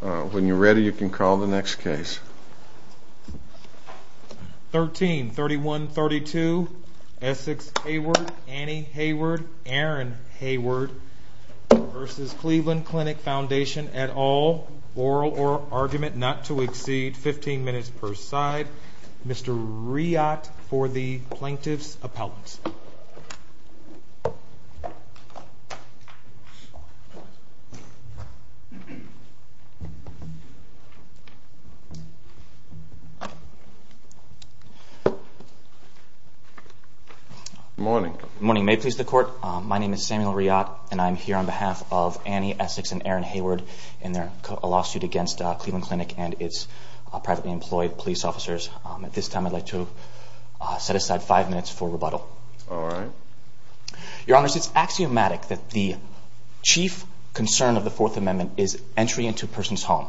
When you're ready, you can call the next case. 13 31 32 Essex Hayward Annie Hayward Aaron Hayward versus Cleveland Clinic Foundation at all oral or argument not to exceed 15 minutes per side. Mr Riyot for the plaintiff's appellate. Good morning. Good morning. May it please the court, my name is Samuel Riyot and I'm here on behalf of Annie Essex and Aaron Hayward in their lawsuit against Cleveland Clinic and its privately employed police officers. At this time I'd like to set aside five minutes for rebuttal. All right. Your honors, it's axiomatic that the chief concern of the Fourth Amendment is entry into a person's home.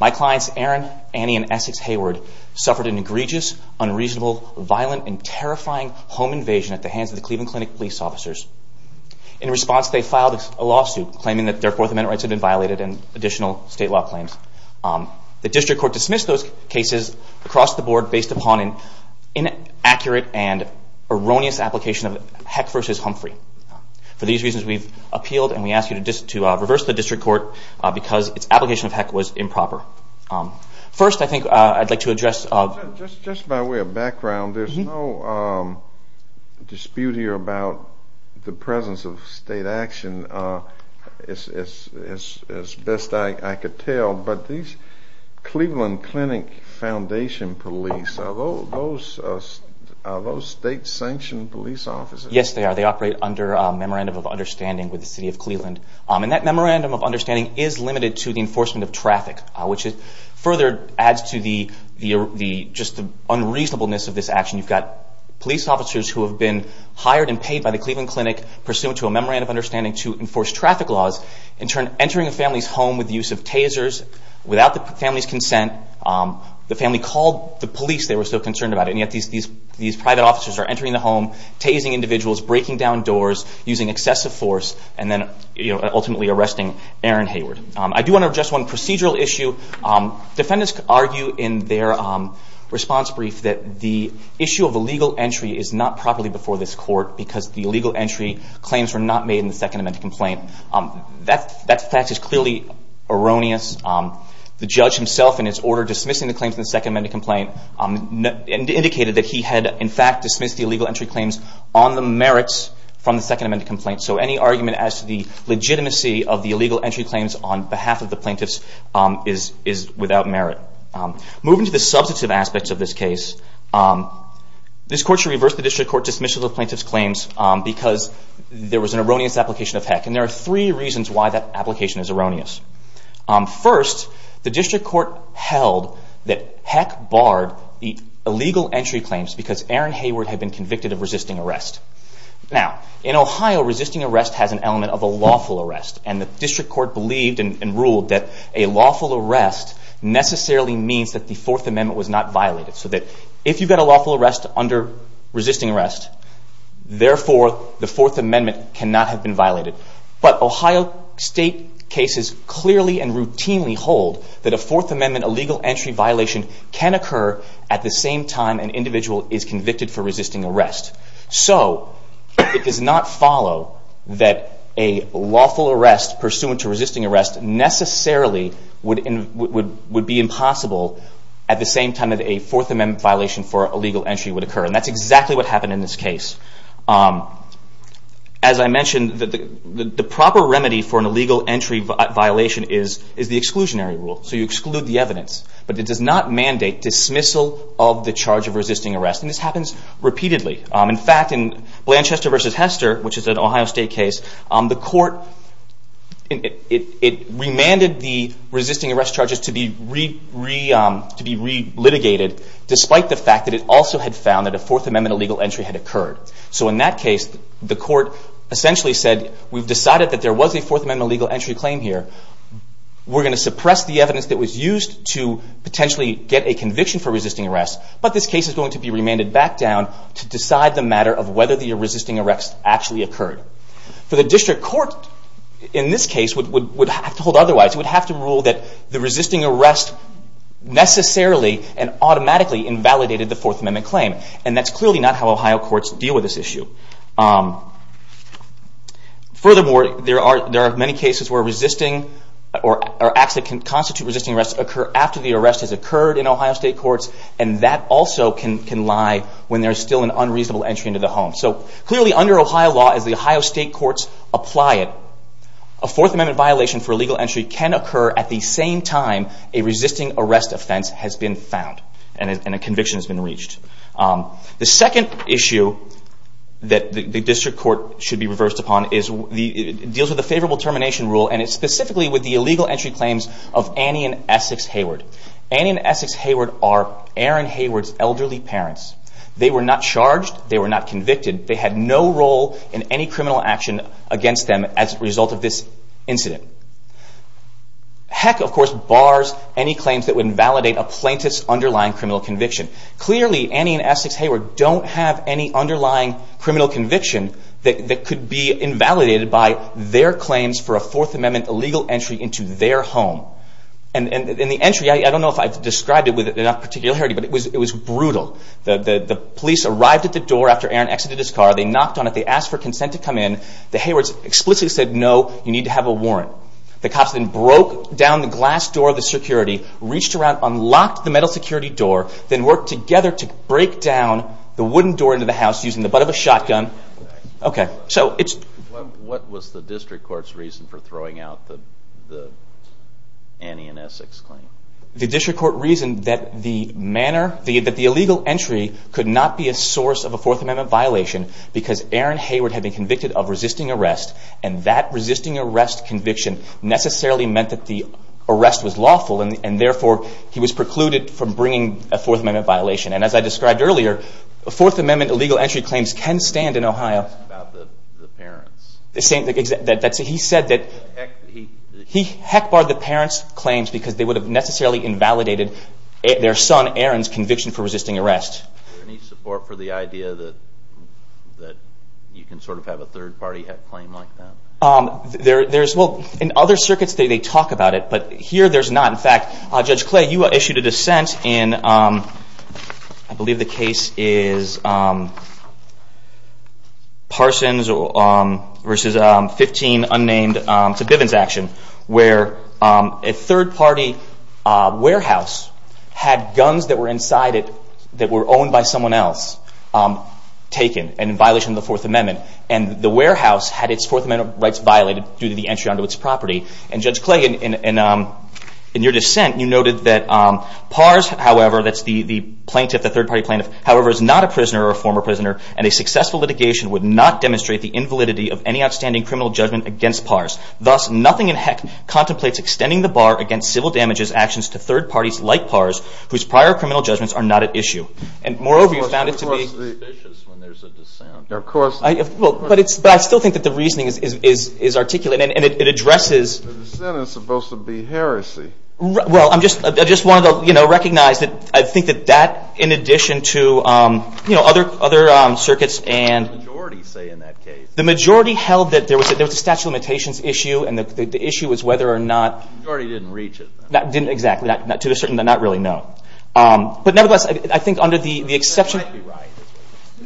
My clients Aaron, Annie, and Essex Hayward suffered an egregious, unreasonable, violent, and terrifying home invasion at the hands of the Cleveland Clinic police officers. In response, they filed a lawsuit claiming that their Fourth Amendment rights had been violated and additional state law claims. The district court dismissed those cases across the board based upon an inaccurate and erroneous application of Heck versus Humphrey. For these reasons, we've appealed and we ask you to reverse the district court because its application of Heck was improper. First, I think I'd like to address... Just by way of background, there's no dispute here about the presence of state action as best I could tell, but these Cleveland Clinic Foundation police, are those state sanctioned police officers? Yes, they are. Memorandum of Understanding with the City of Cleveland. That Memorandum of Understanding is limited to the enforcement of traffic, which further adds to the unreasonableness of this action. You've got police officers who have been hired and paid by the Cleveland Clinic pursuant to a Memorandum of Understanding to enforce traffic laws. In turn, entering a family's home with the use of tasers without the family's consent. The family called the police. They were so concerned about it. Yet, these private officers are entering the home, tasing individuals, breaking down doors, using excessive force, and then ultimately arresting Aaron Hayward. I do want to address one procedural issue. Defendants argue in their response brief that the issue of illegal entry is not properly before this court because the illegal entry claims were not made in the Second Amendment complaint. That fact is clearly erroneous. The judge himself, in his order dismissing the claims in the Second Amendment complaint, indicated that he had in fact dismissed the illegal entry claims on the merits from the Second Amendment complaint. So any argument as to the legitimacy of the illegal entry claims on behalf of the plaintiffs is without merit. Moving to the substantive aspects of this case, this court should reverse the district court dismissal of plaintiff's claims because there was an erroneous application of HECC. There are three reasons why that application is erroneous. First, the district court held that HECC barred the illegal entry claims because Aaron Hayward had been convicted of resisting arrest. In Ohio, resisting arrest has an element of a lawful arrest. The district court believed and ruled that a lawful arrest necessarily means that the Fourth Amendment was not violated. If you get a lawful arrest under resisting arrest, therefore, the cases clearly and routinely hold that a Fourth Amendment illegal entry violation can occur at the same time an individual is convicted for resisting arrest. So it does not follow that a lawful arrest pursuant to resisting arrest necessarily would be impossible at the same time that a Fourth Amendment violation for illegal entry would occur. And that's exactly what happened in this case. As I mentioned, the proper remedy for an illegal entry violation is the exclusionary rule. So you exclude the evidence. But it does not mandate dismissal of the charge of resisting arrest. And this happens repeatedly. In fact, in Blanchester v. Hester, which is an Ohio State case, the court, it remanded the resisting arrest charges to be re-litigated despite the fact that it also had found that a Fourth Amendment illegal entry had occurred. So in that case, the court essentially said, we've decided that there was a Fourth Amendment illegal entry claim here. We're going to suppress the evidence that was used to potentially get a conviction for resisting arrest. But this case is going to be remanded back down to decide the matter of whether the resisting arrest actually occurred. For the district court, in this case, would have to hold otherwise. It would have to rule that the resisting arrest necessarily and automatically invalidated the Fourth Amendment claim. And that's clearly not how Ohio courts deal with this issue. Furthermore, there are many cases where resisting or acts that can constitute resisting arrest occur after the arrest has occurred in Ohio State courts. And that also can lie when there's still an unreasonable entry into the home. So clearly, under Ohio law, as the Ohio State courts apply it, a Fourth Amendment violation for illegal entry can occur at the same time a conviction has been reached. The second issue that the district court should be reversed upon deals with a favorable termination rule. And it's specifically with the illegal entry claims of Annie and Essex Hayward. Annie and Essex Hayward are Aaron Hayward's elderly parents. They were not charged. They were not convicted. They had no role in any criminal action against them as a result of this incident. Heck, of course, bars any claims that would invalidate a plaintiff's criminal conviction. Clearly, Annie and Essex Hayward don't have any underlying criminal conviction that could be invalidated by their claims for a Fourth Amendment illegal entry into their home. And the entry, I don't know if I've described it with enough particularity, but it was brutal. The police arrived at the door after Aaron exited his car. They knocked on it. They asked for consent to come in. The Haywards explicitly said, no, you need to have a warrant. The cops then worked together to break down the wooden door into the house using the butt of a shotgun. What was the district court's reason for throwing out the Annie and Essex claim? The district court reasoned that the illegal entry could not be a source of a Fourth Amendment violation because Aaron Hayward had been convicted of resisting arrest. And that resisting arrest conviction necessarily meant that the arrest was lawful. And therefore, he was precluded from bringing a Fourth Amendment violation. And as I described earlier, Fourth Amendment illegal entry claims can stand in Ohio. He said that he heck barred the parents' claims because they would have necessarily invalidated their son Aaron's conviction for resisting arrest. Is there any support for the idea that you can sort of have a third party claim like that? In other circuits, they talk about it. But here, there's not. In fact, Judge Clay, you issued a dissent in, I believe the case is Parsons versus 15 unnamed to Bivens action, where a third party warehouse had guns that were inside it that were owned by someone else taken and in violation of the Fourth Amendment. And the warehouse had its Fourth Amendment rights violated due to the entry onto its property. And Judge Clay, in your dissent, you noted that Pars, however, that's the plaintiff, the third party plaintiff, however, is not a prisoner or former prisoner. And a successful litigation would not demonstrate the invalidity of any outstanding criminal judgment against Pars. Thus, nothing in heck contemplates extending the bar against civil damages actions to third parties like Pars, whose prior criminal judgments are not at issue. And moreover, you found it to be suspicious when there's a dissent. Of course. But I still think that the reasoning is articulate. And it addresses- The dissent is supposed to be heresy. Well, I just wanted to recognize that I think that that, in addition to other circuits and- What did the majority say in that case? The majority held that there was a statute of limitations issue. And the issue was whether or not- The majority didn't reach it. Didn't exactly. To a certain, not really, no. But nevertheless, I think under the exception- They might be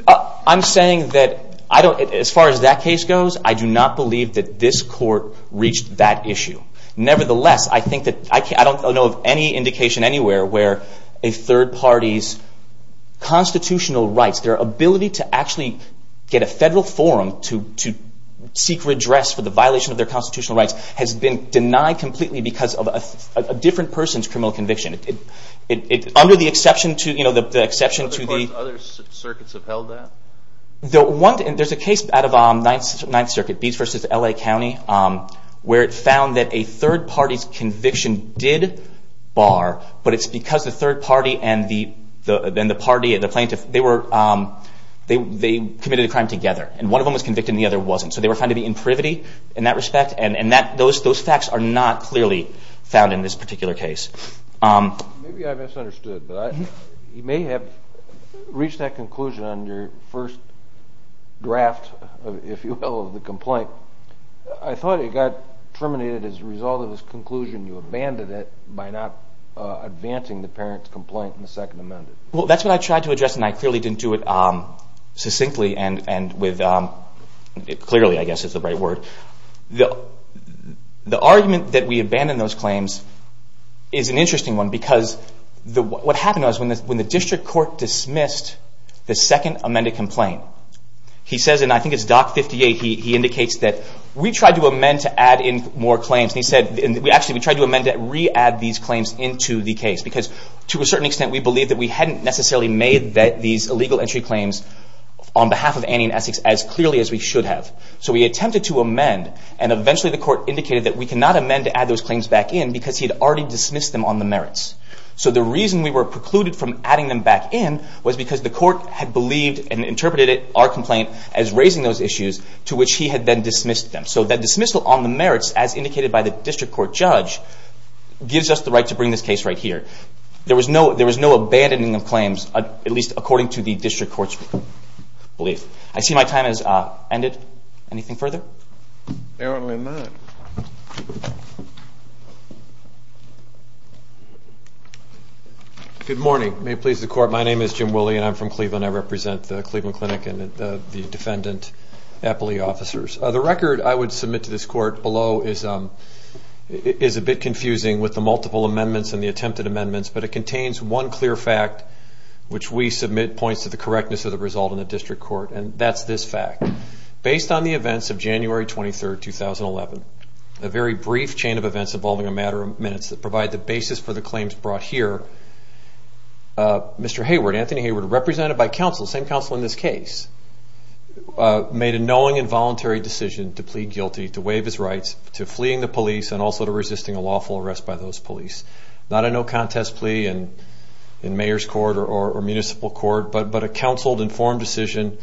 right. I'm saying that as far as that case goes, I do not believe that this court reached that issue. Nevertheless, I think that, I don't know of any indication anywhere where a third party's constitutional rights, their ability to actually get a federal forum to seek redress for the violation of their constitutional rights, has been denied completely because of a different person's criminal conviction. Under the exception to- What other courts, other circuits have held that? The one- There's a case out of Ninth Circuit, Beats v. L.A. County, where it found that a third party's conviction did bar, but it's because the third party and the plaintiff, they committed a crime together. And one of them was convicted and the other wasn't. So they were found to be in privity in that respect. And those facts are not clearly found in this particular case. Maybe I misunderstood, but you may have reached that conclusion on your first draft, if you will, of the complaint. I thought it got terminated as a result of this conclusion, you abandoned it by not advancing the parent's complaint in the Second Amendment. Well, that's what I tried to address and I clearly didn't do it succinctly and with, clearly, I guess is the right word. The argument that we abandoned those claims is an interesting one because what happened was, when the district court dismissed the second amended complaint, he says, and I think it's Doc 58, he indicates that, we tried to amend to add in more claims. And he said, actually, we tried to amend to re-add these claims into the case because, to a certain extent, we believed that we hadn't necessarily made these illegal entry claims on behalf of Annie and Essex as clearly as we should have. So we attempted to amend and eventually the court indicated that we cannot amend to add those claims back in because he had already dismissed them on the merits. So the reason we were precluded from adding them back in was because the court had believed and interpreted our complaint as raising those issues to which he had then dismissed them. So that dismissal on the merits, as indicated by the district court judge, gives us the right to bring this case right here. There was no abandoning of claims, at least according to the district court's belief. I see my time has ended. Anything further? Apparently not. Good morning. May it please the court, my name is Jim Willey and I'm from Cleveland. I represent the Cleveland Clinic and the defendant appellee officers. The record I would submit to this court below is a bit confusing with the multiple amendments and the attempted amendments, but it contains one clear fact which we submit points to the correctness of the result in the January 23, 2011. A very brief chain of events involving a matter of minutes that provide the basis for the claims brought here. Mr. Hayward, Anthony Hayward, represented by counsel, same counsel in this case, made a knowing and voluntary decision to plead guilty to waive his rights to fleeing the police and also to resisting a lawful arrest by those police. Not a no contest plea in mayor's court or municipal court, but a counseled informed decision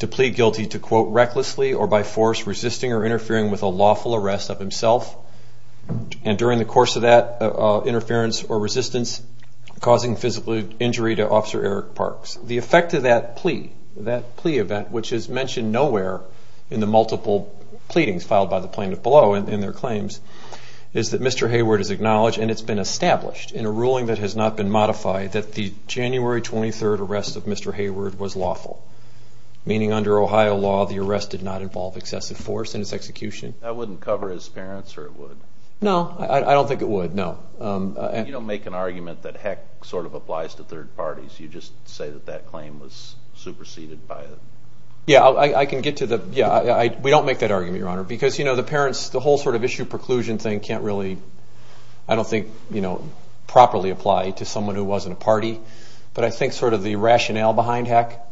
to plead guilty to recklessly or by force resisting or interfering with a lawful arrest of himself and during the course of that interference or resistance causing physical injury to Officer Eric Parks. The effect of that plea, that plea event, which is mentioned nowhere in the multiple pleadings filed by the plaintiff below in their claims, is that Mr. Hayward is acknowledged and it's been established in a ruling that has not been modified that the January 23 arrest of Mr. Hayward was lawful, meaning under Ohio law the arrest did not involve excessive force in its execution. That wouldn't cover his parents or it would? No, I don't think it would, no. You don't make an argument that heck sort of applies to third parties, you just say that that claim was superseded by it. Yeah, I can get to the, yeah, we don't make that argument, your honor, because you know the parents, the whole sort of issue preclusion thing can't really, I don't think, you know, properly apply to someone who wasn't a party, but I think sort of the rationale behind heck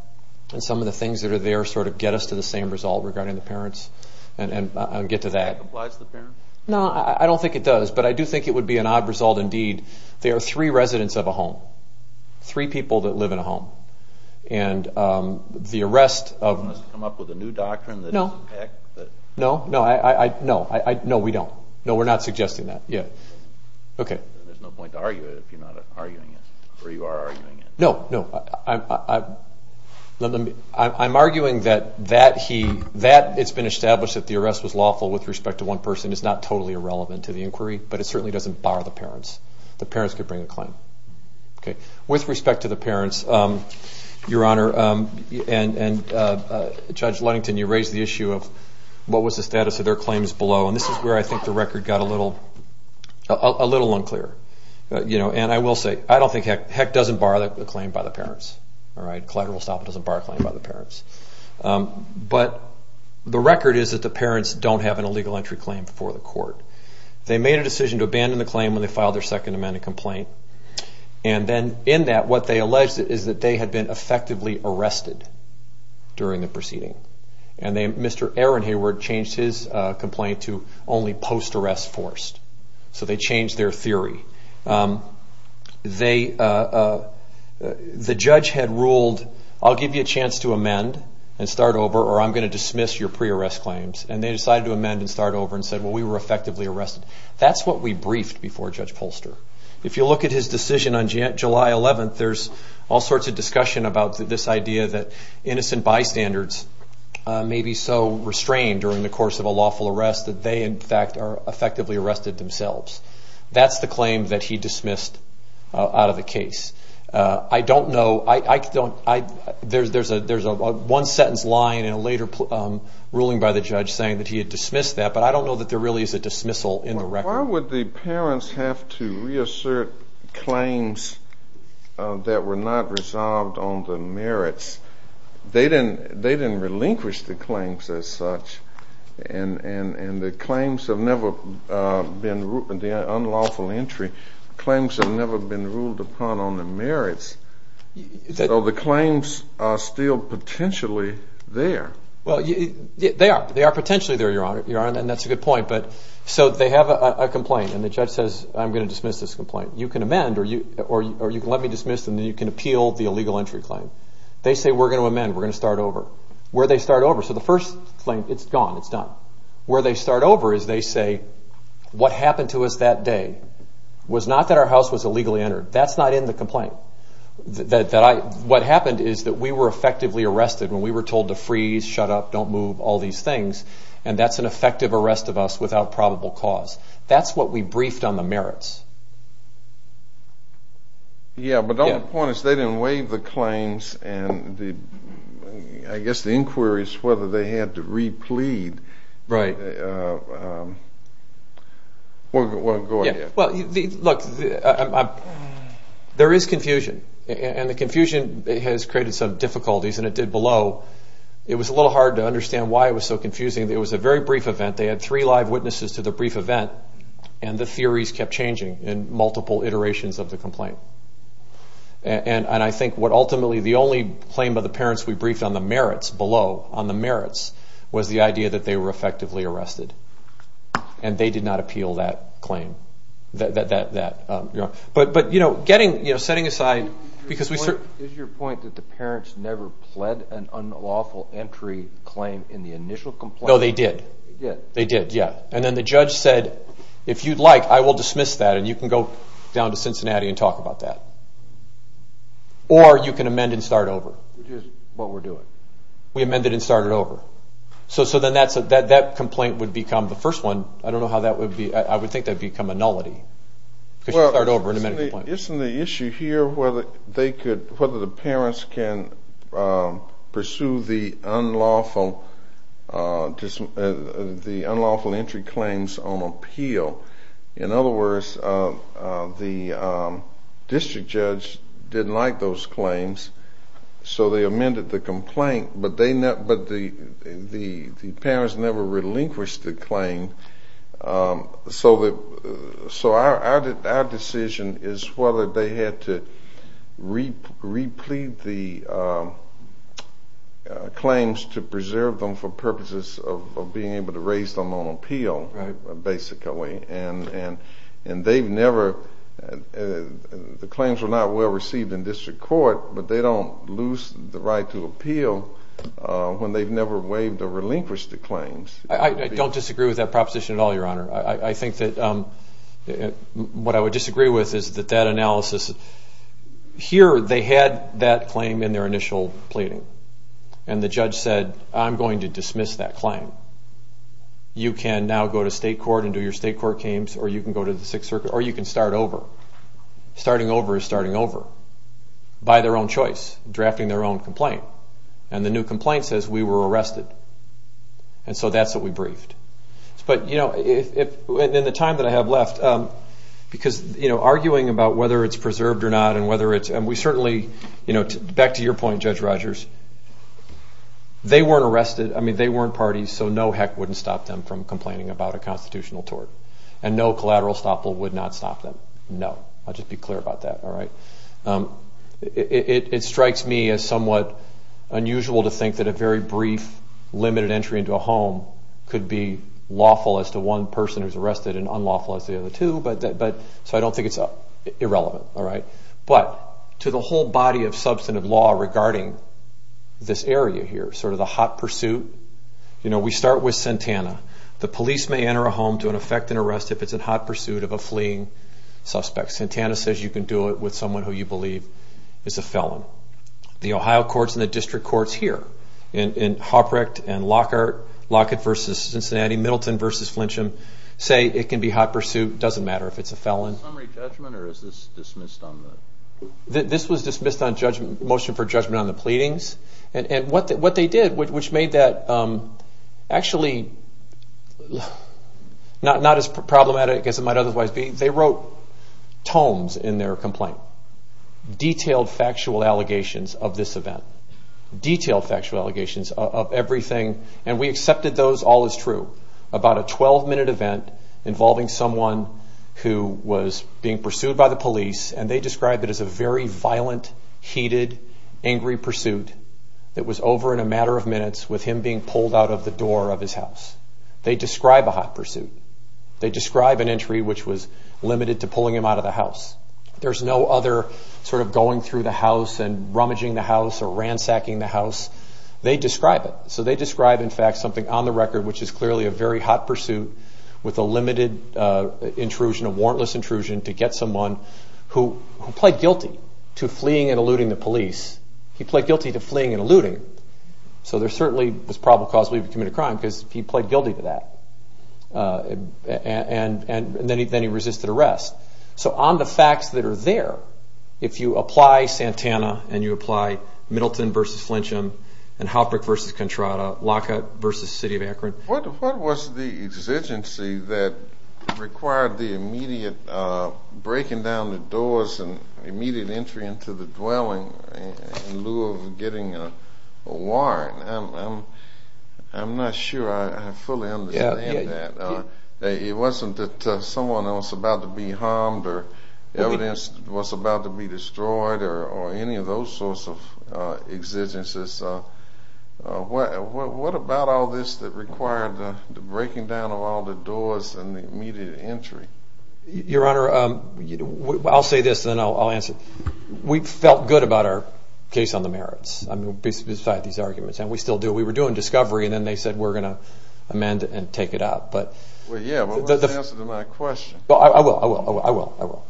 and some of the things that are there sort of get us to the same result regarding the parents and I'll get to that. Applies to the parents? No, I don't think it does, but I do think it would be an odd result indeed. There are three residents of a home, three people that live in a home and the arrest of... You want us to come up with a new doctrine that... No, no, no, I, I, no, I, no, we don't, no, we're not suggesting that yet. Okay. There's no point to argue it if you're not arguing it, or you are arguing it. No, no, I, I, I'm arguing that, that he, that it's been established that the arrest was lawful with respect to one person is not totally irrelevant to the inquiry, but it certainly doesn't bar the parents. The parents could bring a claim. Okay. With respect to the parents, your honor, and, and Judge Ludington, you raised the issue of what was the status of their claims below and this is where I think the record got a little, a little unclear. You know, and I will say, I don't think, heck, heck doesn't bar the claim by the parents. All right. Collateral stop doesn't bar a claim by the parents. But the record is that the parents don't have an illegal entry claim before the court. They made a decision to abandon the claim when they filed their second amendment complaint and then in that what they alleged is that they had been effectively arrested during the forced. So they changed their theory. They, the judge had ruled, I'll give you a chance to amend and start over, or I'm going to dismiss your pre-arrest claims. And they decided to amend and start over and said, well, we were effectively arrested. That's what we briefed before Judge Polster. If you look at his decision on July 11th, there's all sorts of discussion about this idea that innocent bystanders may be so restrained during the course of a lawful arrest that they in fact are effectively arrested themselves. That's the claim that he dismissed out of the case. I don't know, there's a one sentence line in a later ruling by the judge saying that he had dismissed that, but I don't know that there really is a dismissal in the record. Why would the parents have to reassert claims that were not resolved on the merits? They didn't relinquish the claims as such, and the claims have never been, the unlawful entry claims have never been ruled upon on the merits. So the claims are still potentially there. Well, they are, they are potentially there, Your Honor, and that's a good point, but so they have a complaint and the judge says, I'm going to dismiss this complaint. You can amend or you can let me dismiss and then you can appeal the illegal entry claim. They say, we're going to amend, we're going to start over. Where do they start over? So the first claim, it's gone, it's done. Where they start over is they say, what happened to us that day was not that our house was illegally entered. That's not in the complaint. That I, what happened is that we were effectively arrested when we were told to freeze, shut up, don't move, all these things, and that's an effective arrest of us without probable cause. That's what we briefed on the merits. Yeah, but the only point is they didn't waive the claims and the, I guess the inquiry is whether they had to re-plead. Right. Well, go ahead. Well, look, there is confusion and the confusion has created some difficulties and it did below. It was a little hard to understand why it was so confusing. It was a very brief event. They had three live witnesses to the brief event and the theories kept changing in multiple iterations of the complaint. And I think what ultimately, the only claim by the parents we briefed on the merits below, on the merits, was the idea that they were effectively arrested and they did not appeal that claim. But, you know, getting, you know, setting aside, because we... Is your point that the parents never pled an unlawful entry claim in the initial complaint? No, they did. Yeah. They did, yeah. And then the judge said, if you'd like, I will dismiss that and you can go down to Cincinnati and talk about that. Or you can amend and start over. Which is what we're doing. We amended and started over. So then that complaint would become, the first one, I don't know how that would be, I would think that would become a nullity. Because you start over and amend a complaint. Well, isn't the issue here whether they could, whether the parents can pursue the unlawful, the unlawful entry claims on appeal. In other words, the district judge didn't like those claims. So they amended the complaint. But they, but the parents never relinquished the claim. So that, so our decision is whether they had to replete the claims to preserve them for purposes of being able to raise them on appeal. Right. Basically. And they've never, the claims were not well received in district court, but they don't lose the right to appeal when they've never waived or relinquished the claims. I don't disagree with that proposition at all, your honor. I think that what I would disagree with is that that analysis, here they had that claim in their initial pleading. And the judge said, I'm going to dismiss that claim. You can now go to state court and do your state court case, or you can go to the Sixth Circuit, or you can start over. Starting over is starting over. By their own choice, drafting their own complaint. And the new complaint says we were arrested. And so that's what we briefed. But, you know, in the time that I have left, because, you know, whether it's preserved or not, and whether it's, and we certainly, you know, back to your point, Judge Rogers, they weren't arrested. I mean, they weren't parties. So no heck wouldn't stop them from complaining about a constitutional tort. And no collateral stop will would not stop them. No. I'll just be clear about that. All right. It strikes me as somewhat unusual to think that a very brief, limited entry into a home could be lawful as to one person who's arrested and unlawful as the other two. So I don't think it's irrelevant. All right. But to the whole body of substantive law regarding this area here, sort of the hot pursuit, you know, we start with Santana. The police may enter a home to an effect and arrest if it's in hot pursuit of a fleeing suspect. Santana says you can do it with someone who you believe is a felon. The Ohio courts and the district courts here in Hoprecht and Lockhart, Lockhart versus Cincinnati, Middleton versus Flintsham say it can be hot pursuit. Doesn't matter if it's a felon. Summary judgment or is this dismissed on the... This was dismissed on judgment, motion for judgment on the pleadings. And what they did, which made that actually not as problematic as it might otherwise be, they wrote tomes in their complaint. Detailed factual allegations of this event. Detailed factual allegations of everything. And we accepted those all as true. About a 12-minute event involving someone who was being pursued by the police and they described it as a very violent, heated, angry pursuit that was over in a matter of minutes with him being pulled out of the door of his house. There's no other sort of going through the house and rummaging the house or ransacking the house. They describe it. So they describe in fact something on the record which is clearly a very hot pursuit with a limited intrusion, a warrantless intrusion to get someone who played guilty to fleeing and eluding the police. He played guilty to fleeing and eluding. So there certainly was probable cause for him to commit a crime because he played guilty to that. And then he resisted arrest. So on the facts that are there, if you apply Santana and you apply Middleton versus Flincham and Halpert versus Contrada, Lockhart versus the city of Akron. What was the exigency that required the immediate breaking down the doors and immediate entry into the dwelling in lieu of getting a warrant? I'm not sure I fully understand that. It wasn't that someone was about to be harmed or evidence was about to be destroyed or any of those sorts of exigencies. What about all this that required the breaking down of all the doors and the immediate entry? Your Honor, I'll say this and then I'll answer. We felt good about our case on the merits. I mean besides these arguments and we still do. We were doing discovery and then they said we're going to amend it and take it out. I will.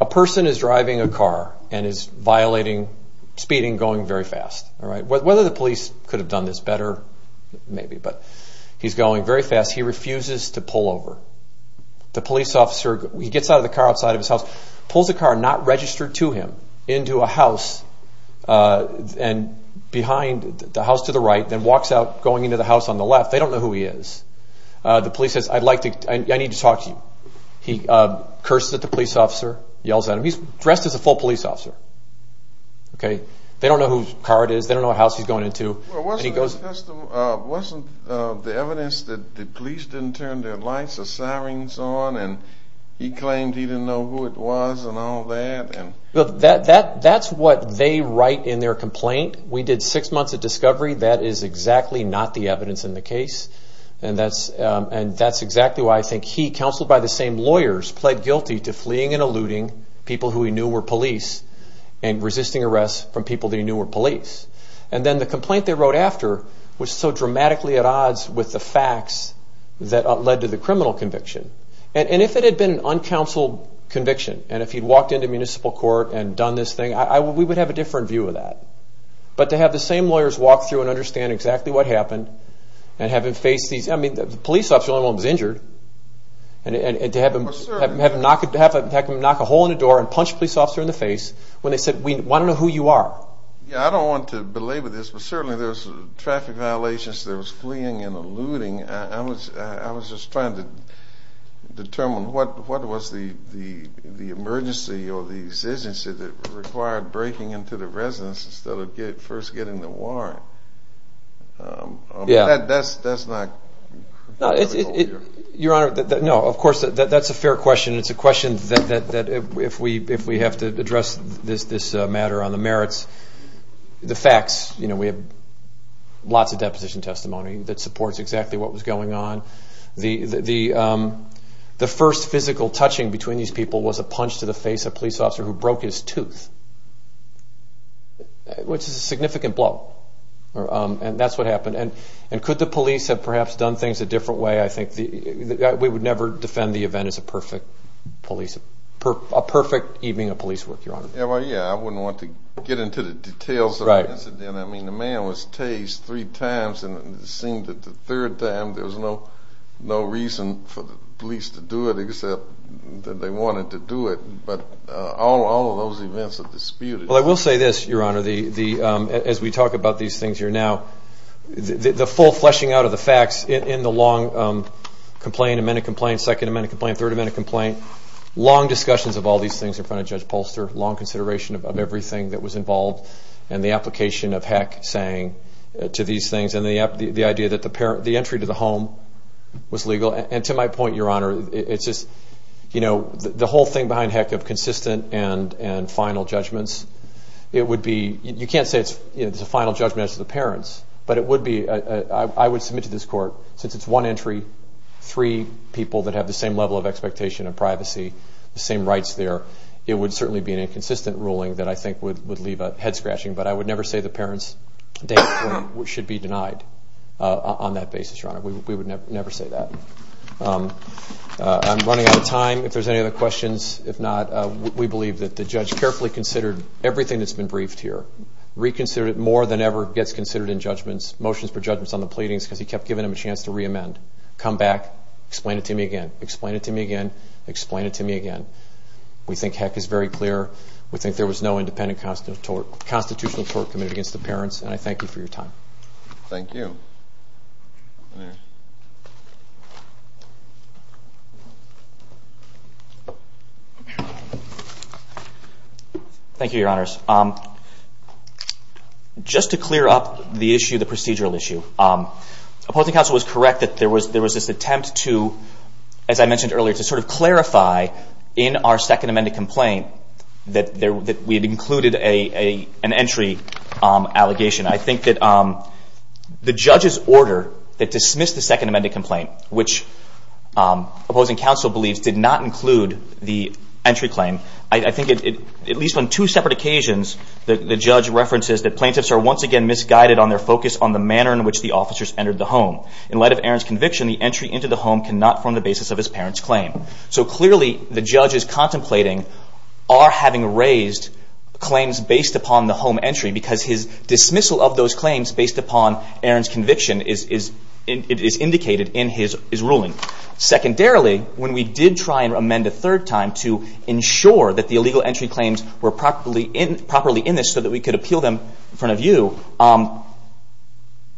A person is driving a car and is violating speeding going very fast. Whether the police could have done this better, maybe. But he's going very fast. He refuses to pull over. The police officer gets out of the car outside of his house, pulls the car not registered to him into a house and behind the house to the right then walks out going into the house on the left. They don't know who he is. The police says I need to talk to you. He curses at the police officer, yells at him. He's dressed as a full police officer. They don't know whose car it is. They don't know what house he's going into. Wasn't the evidence that the police didn't turn their lights or sirens on and he claimed he didn't know who it was and all that? That's what they write in their complaint. We did six months of discovery. That is exactly not the evidence in the case and that's exactly why I think he, counseled by the same lawyers, pled guilty to fleeing and eluding people who he knew were police and resisting arrest from people that he knew were police. Then the complaint they wrote after was so dramatically at odds with the facts that led to the criminal conviction. If it had been an uncounseled conviction and if he'd walked into a municipal court and done this thing, we would have a different view of that. But to have the same lawyers walk through and understand exactly what happened and have him face these, I mean the police officer was the only one who was injured and to have him knock a hole in the door and punch a police officer in the face when they said we want to know who you are. I don't want to belabor this but certainly there's traffic violations, there was fleeing and eluding. I was just trying to understand the exigency that required breaking into the residence instead of first getting the warrant. That's a fair question. It's a question that if we have to address this matter on the merits, the facts, you know we have lots of deposition testimony that supports exactly what was going on. The first physical touching between these people was a punch to the face of a police officer who broke his tooth, which is a significant blow and that's what happened. Could the police have perhaps done things a different way? I think we would never defend the event as a perfect police, a perfect evening of police work, your honor. Yeah, I wouldn't want to get into the details of the incident. I mean the man was tased three times and it seemed that the third time there was no reason for the police to do it except that they wanted to do it, but all of those events are disputed. Well I will say this, your honor, as we talk about these things here now, the full fleshing out of the facts in the long complaint, amended complaint, second amended complaint, third amended complaint, long discussions of all these things in front of Judge Polster, long consideration of everything that was involved and the application of heck saying to these things and the idea that the entry to the home was legal and to my point, your honor, the whole thing behind heck of consistent and final judgments, you can't say it's a final judgment as to the parents, but I would submit to this court, since it's one entry, three people that have the same level of expectation and privacy, the same rights there, it would certainly be an inconsistent ruling that I think would leave a head scratching, but I would never say the parents should be denied on that basis, your honor, we would never say that. I'm running out of time, if there's any other questions, if not, we believe that the judge carefully considered everything that's been briefed here, reconsidered it more than ever, gets considered in judgments, motions for judgments on the pleadings because he kept giving them a chance to reamend, come back, explain it to me again, explain it to me again, explain it to me again. We think heck is very clear, we think there was no independent constitutional court committed against the parents and I thank you for your time. Thank you. Thank you, your honors. Just to clear up the issue, the procedural issue, opposing counsel was correct that there was this attempt to, as I mentioned earlier, to sort of clarify in our second amended complaint that we had included an entry allegation. I think that the judge's order that dismissed the second amended complaint, which opposing counsel believes did not include the entry claim, I think at least on two separate occasions, the judge references that plaintiffs are once again misguided on their focus on the manner in which the officers entered the home. In light of Aaron's conviction, the entry into the home is not in violation of his parents' claim. So clearly the judge is contemplating our having raised claims based upon the home entry because his dismissal of those claims based upon Aaron's conviction is indicated in his ruling. Secondarily, when we did try and amend a third time to ensure that the illegal entry claims were properly in this so that we could appeal them in front of you,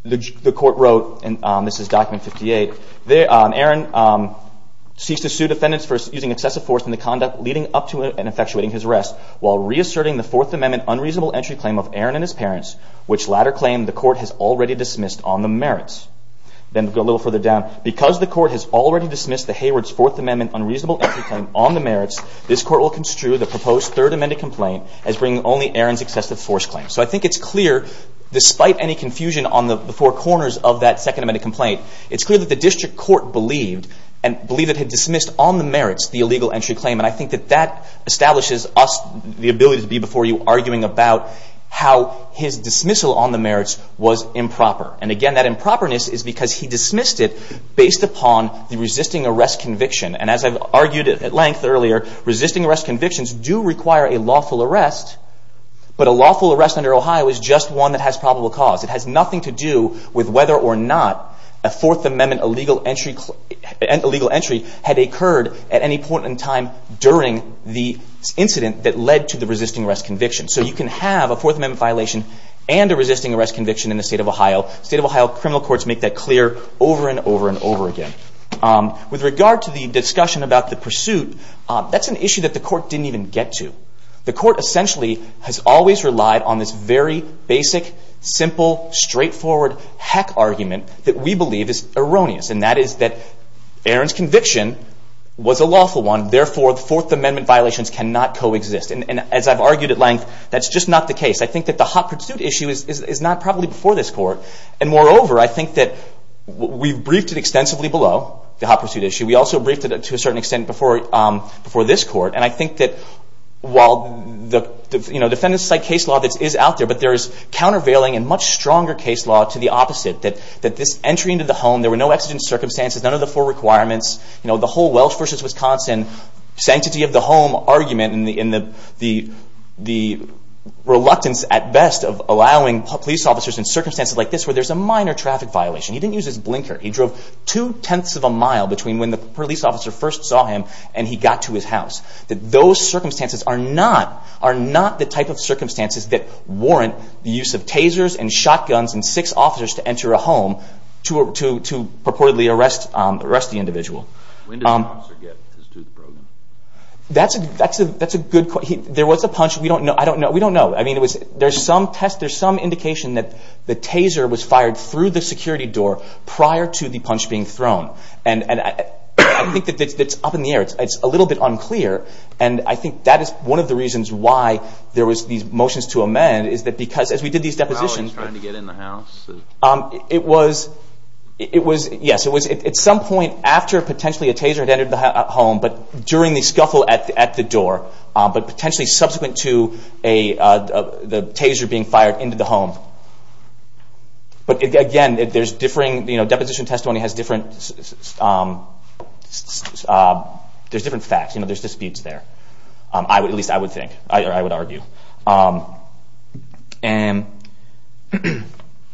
the court wrote, and this is document 58, Aaron ceased to sue defendants for using excessive force in the conduct leading up to and effectuating his arrest while reasserting the Fourth Amendment unreasonable entry claim of Aaron and his parents, which latter claim the court has already dismissed on the merits. Then go a little further down. Because the court has already dismissed the Hayward's Fourth Amendment unreasonable entry claim on the merits, this court will construe the proposed third amended complaint as bringing only Aaron's excessive force claim. So I think it's clear, despite any confusion on the four corners of that second amended complaint, it's clear that the district court believed and believed it had dismissed on the merits the illegal entry claim. And I think that that establishes us the ability to be before you arguing about how his dismissal on the merits was improper. And again, that improperness is because he dismissed it based upon the resisting arrest conviction. And as I've argued at length earlier, resisting arrest convictions do require a lawful arrest. But a lawful arrest under Ohio is just one that has probable cause. It has nothing to do with whether or not a Fourth Amendment illegal entry had occurred at any point in time during the incident that led to the resisting arrest conviction. So you can have a Fourth Amendment violation and a resisting arrest conviction in the state of Ohio. The state of Ohio criminal courts make that clear over and over and That's an issue that the court didn't even get to. The court essentially has always relied on this very basic, simple, straightforward heck argument that we believe is erroneous. And that is that Aaron's conviction was a lawful one. Therefore, the Fourth Amendment violations cannot coexist. And as I've argued at length, that's just not the case. I think that the hot pursuit issue is not probably before this court. And moreover, I think that we've briefed it extensively below, the hot pursuit issue. We also briefed it to a certain extent before this court. And I think that while the defendant-side case law that is out there, but there is countervailing and much stronger case law to the opposite, that this entry into the home, there were no exigent circumstances, none of the four requirements, the whole Welsh versus Wisconsin, sanctity of the home argument, and the reluctance at best of allowing police officers in circumstances like this where there's a minor traffic violation. He didn't use his blinker. He drove two-tenths of a mile between when the police officer first saw him and he got to his house. Those circumstances are not the type of circumstances that warrant the use of tasers and shotguns and six officers to enter a home to purportedly arrest the individual. When did the officer get his tooth broken? That's a good question. There was a punch. We don't know. I mean, there's some test, there's some indication that the taser was fired through the security door prior to the punch being thrown. And I think that's up in the air. It's a little bit unclear. And I think that is one of the reasons why there was these differing, the scuffle at the door, but potentially subsequent to the taser being fired into the home. But again, there's differing, you know, deposition testimony has different, there's different facts, you know, there's disputes there. At least I would think, or I would argue. And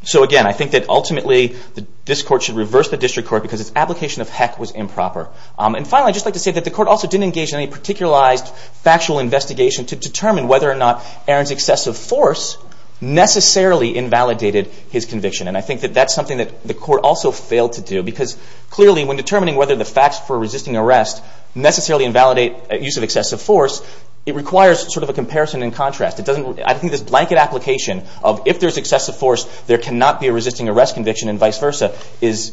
so again, I think that ultimately this court should reverse the district court because its application of heck was improper. And finally, I'd just like to say that the court also didn't engage in any particularized factual investigation to determine whether or not Aaron's excessive force necessarily invalidated his conviction. And I think that that's something that the court also failed to do because clearly when determining whether the facts for resisting arrest necessarily invalidate use of excessive force, it requires sort of a comparison and contrast. It doesn't, I think this blanket application of if there's excessive force, there cannot be a resisting arrest conviction and vice versa is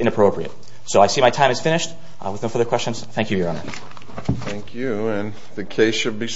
inappropriate. So I see my time is finished with no further questions. Thank you, Your Honor. Thank you. And the case should be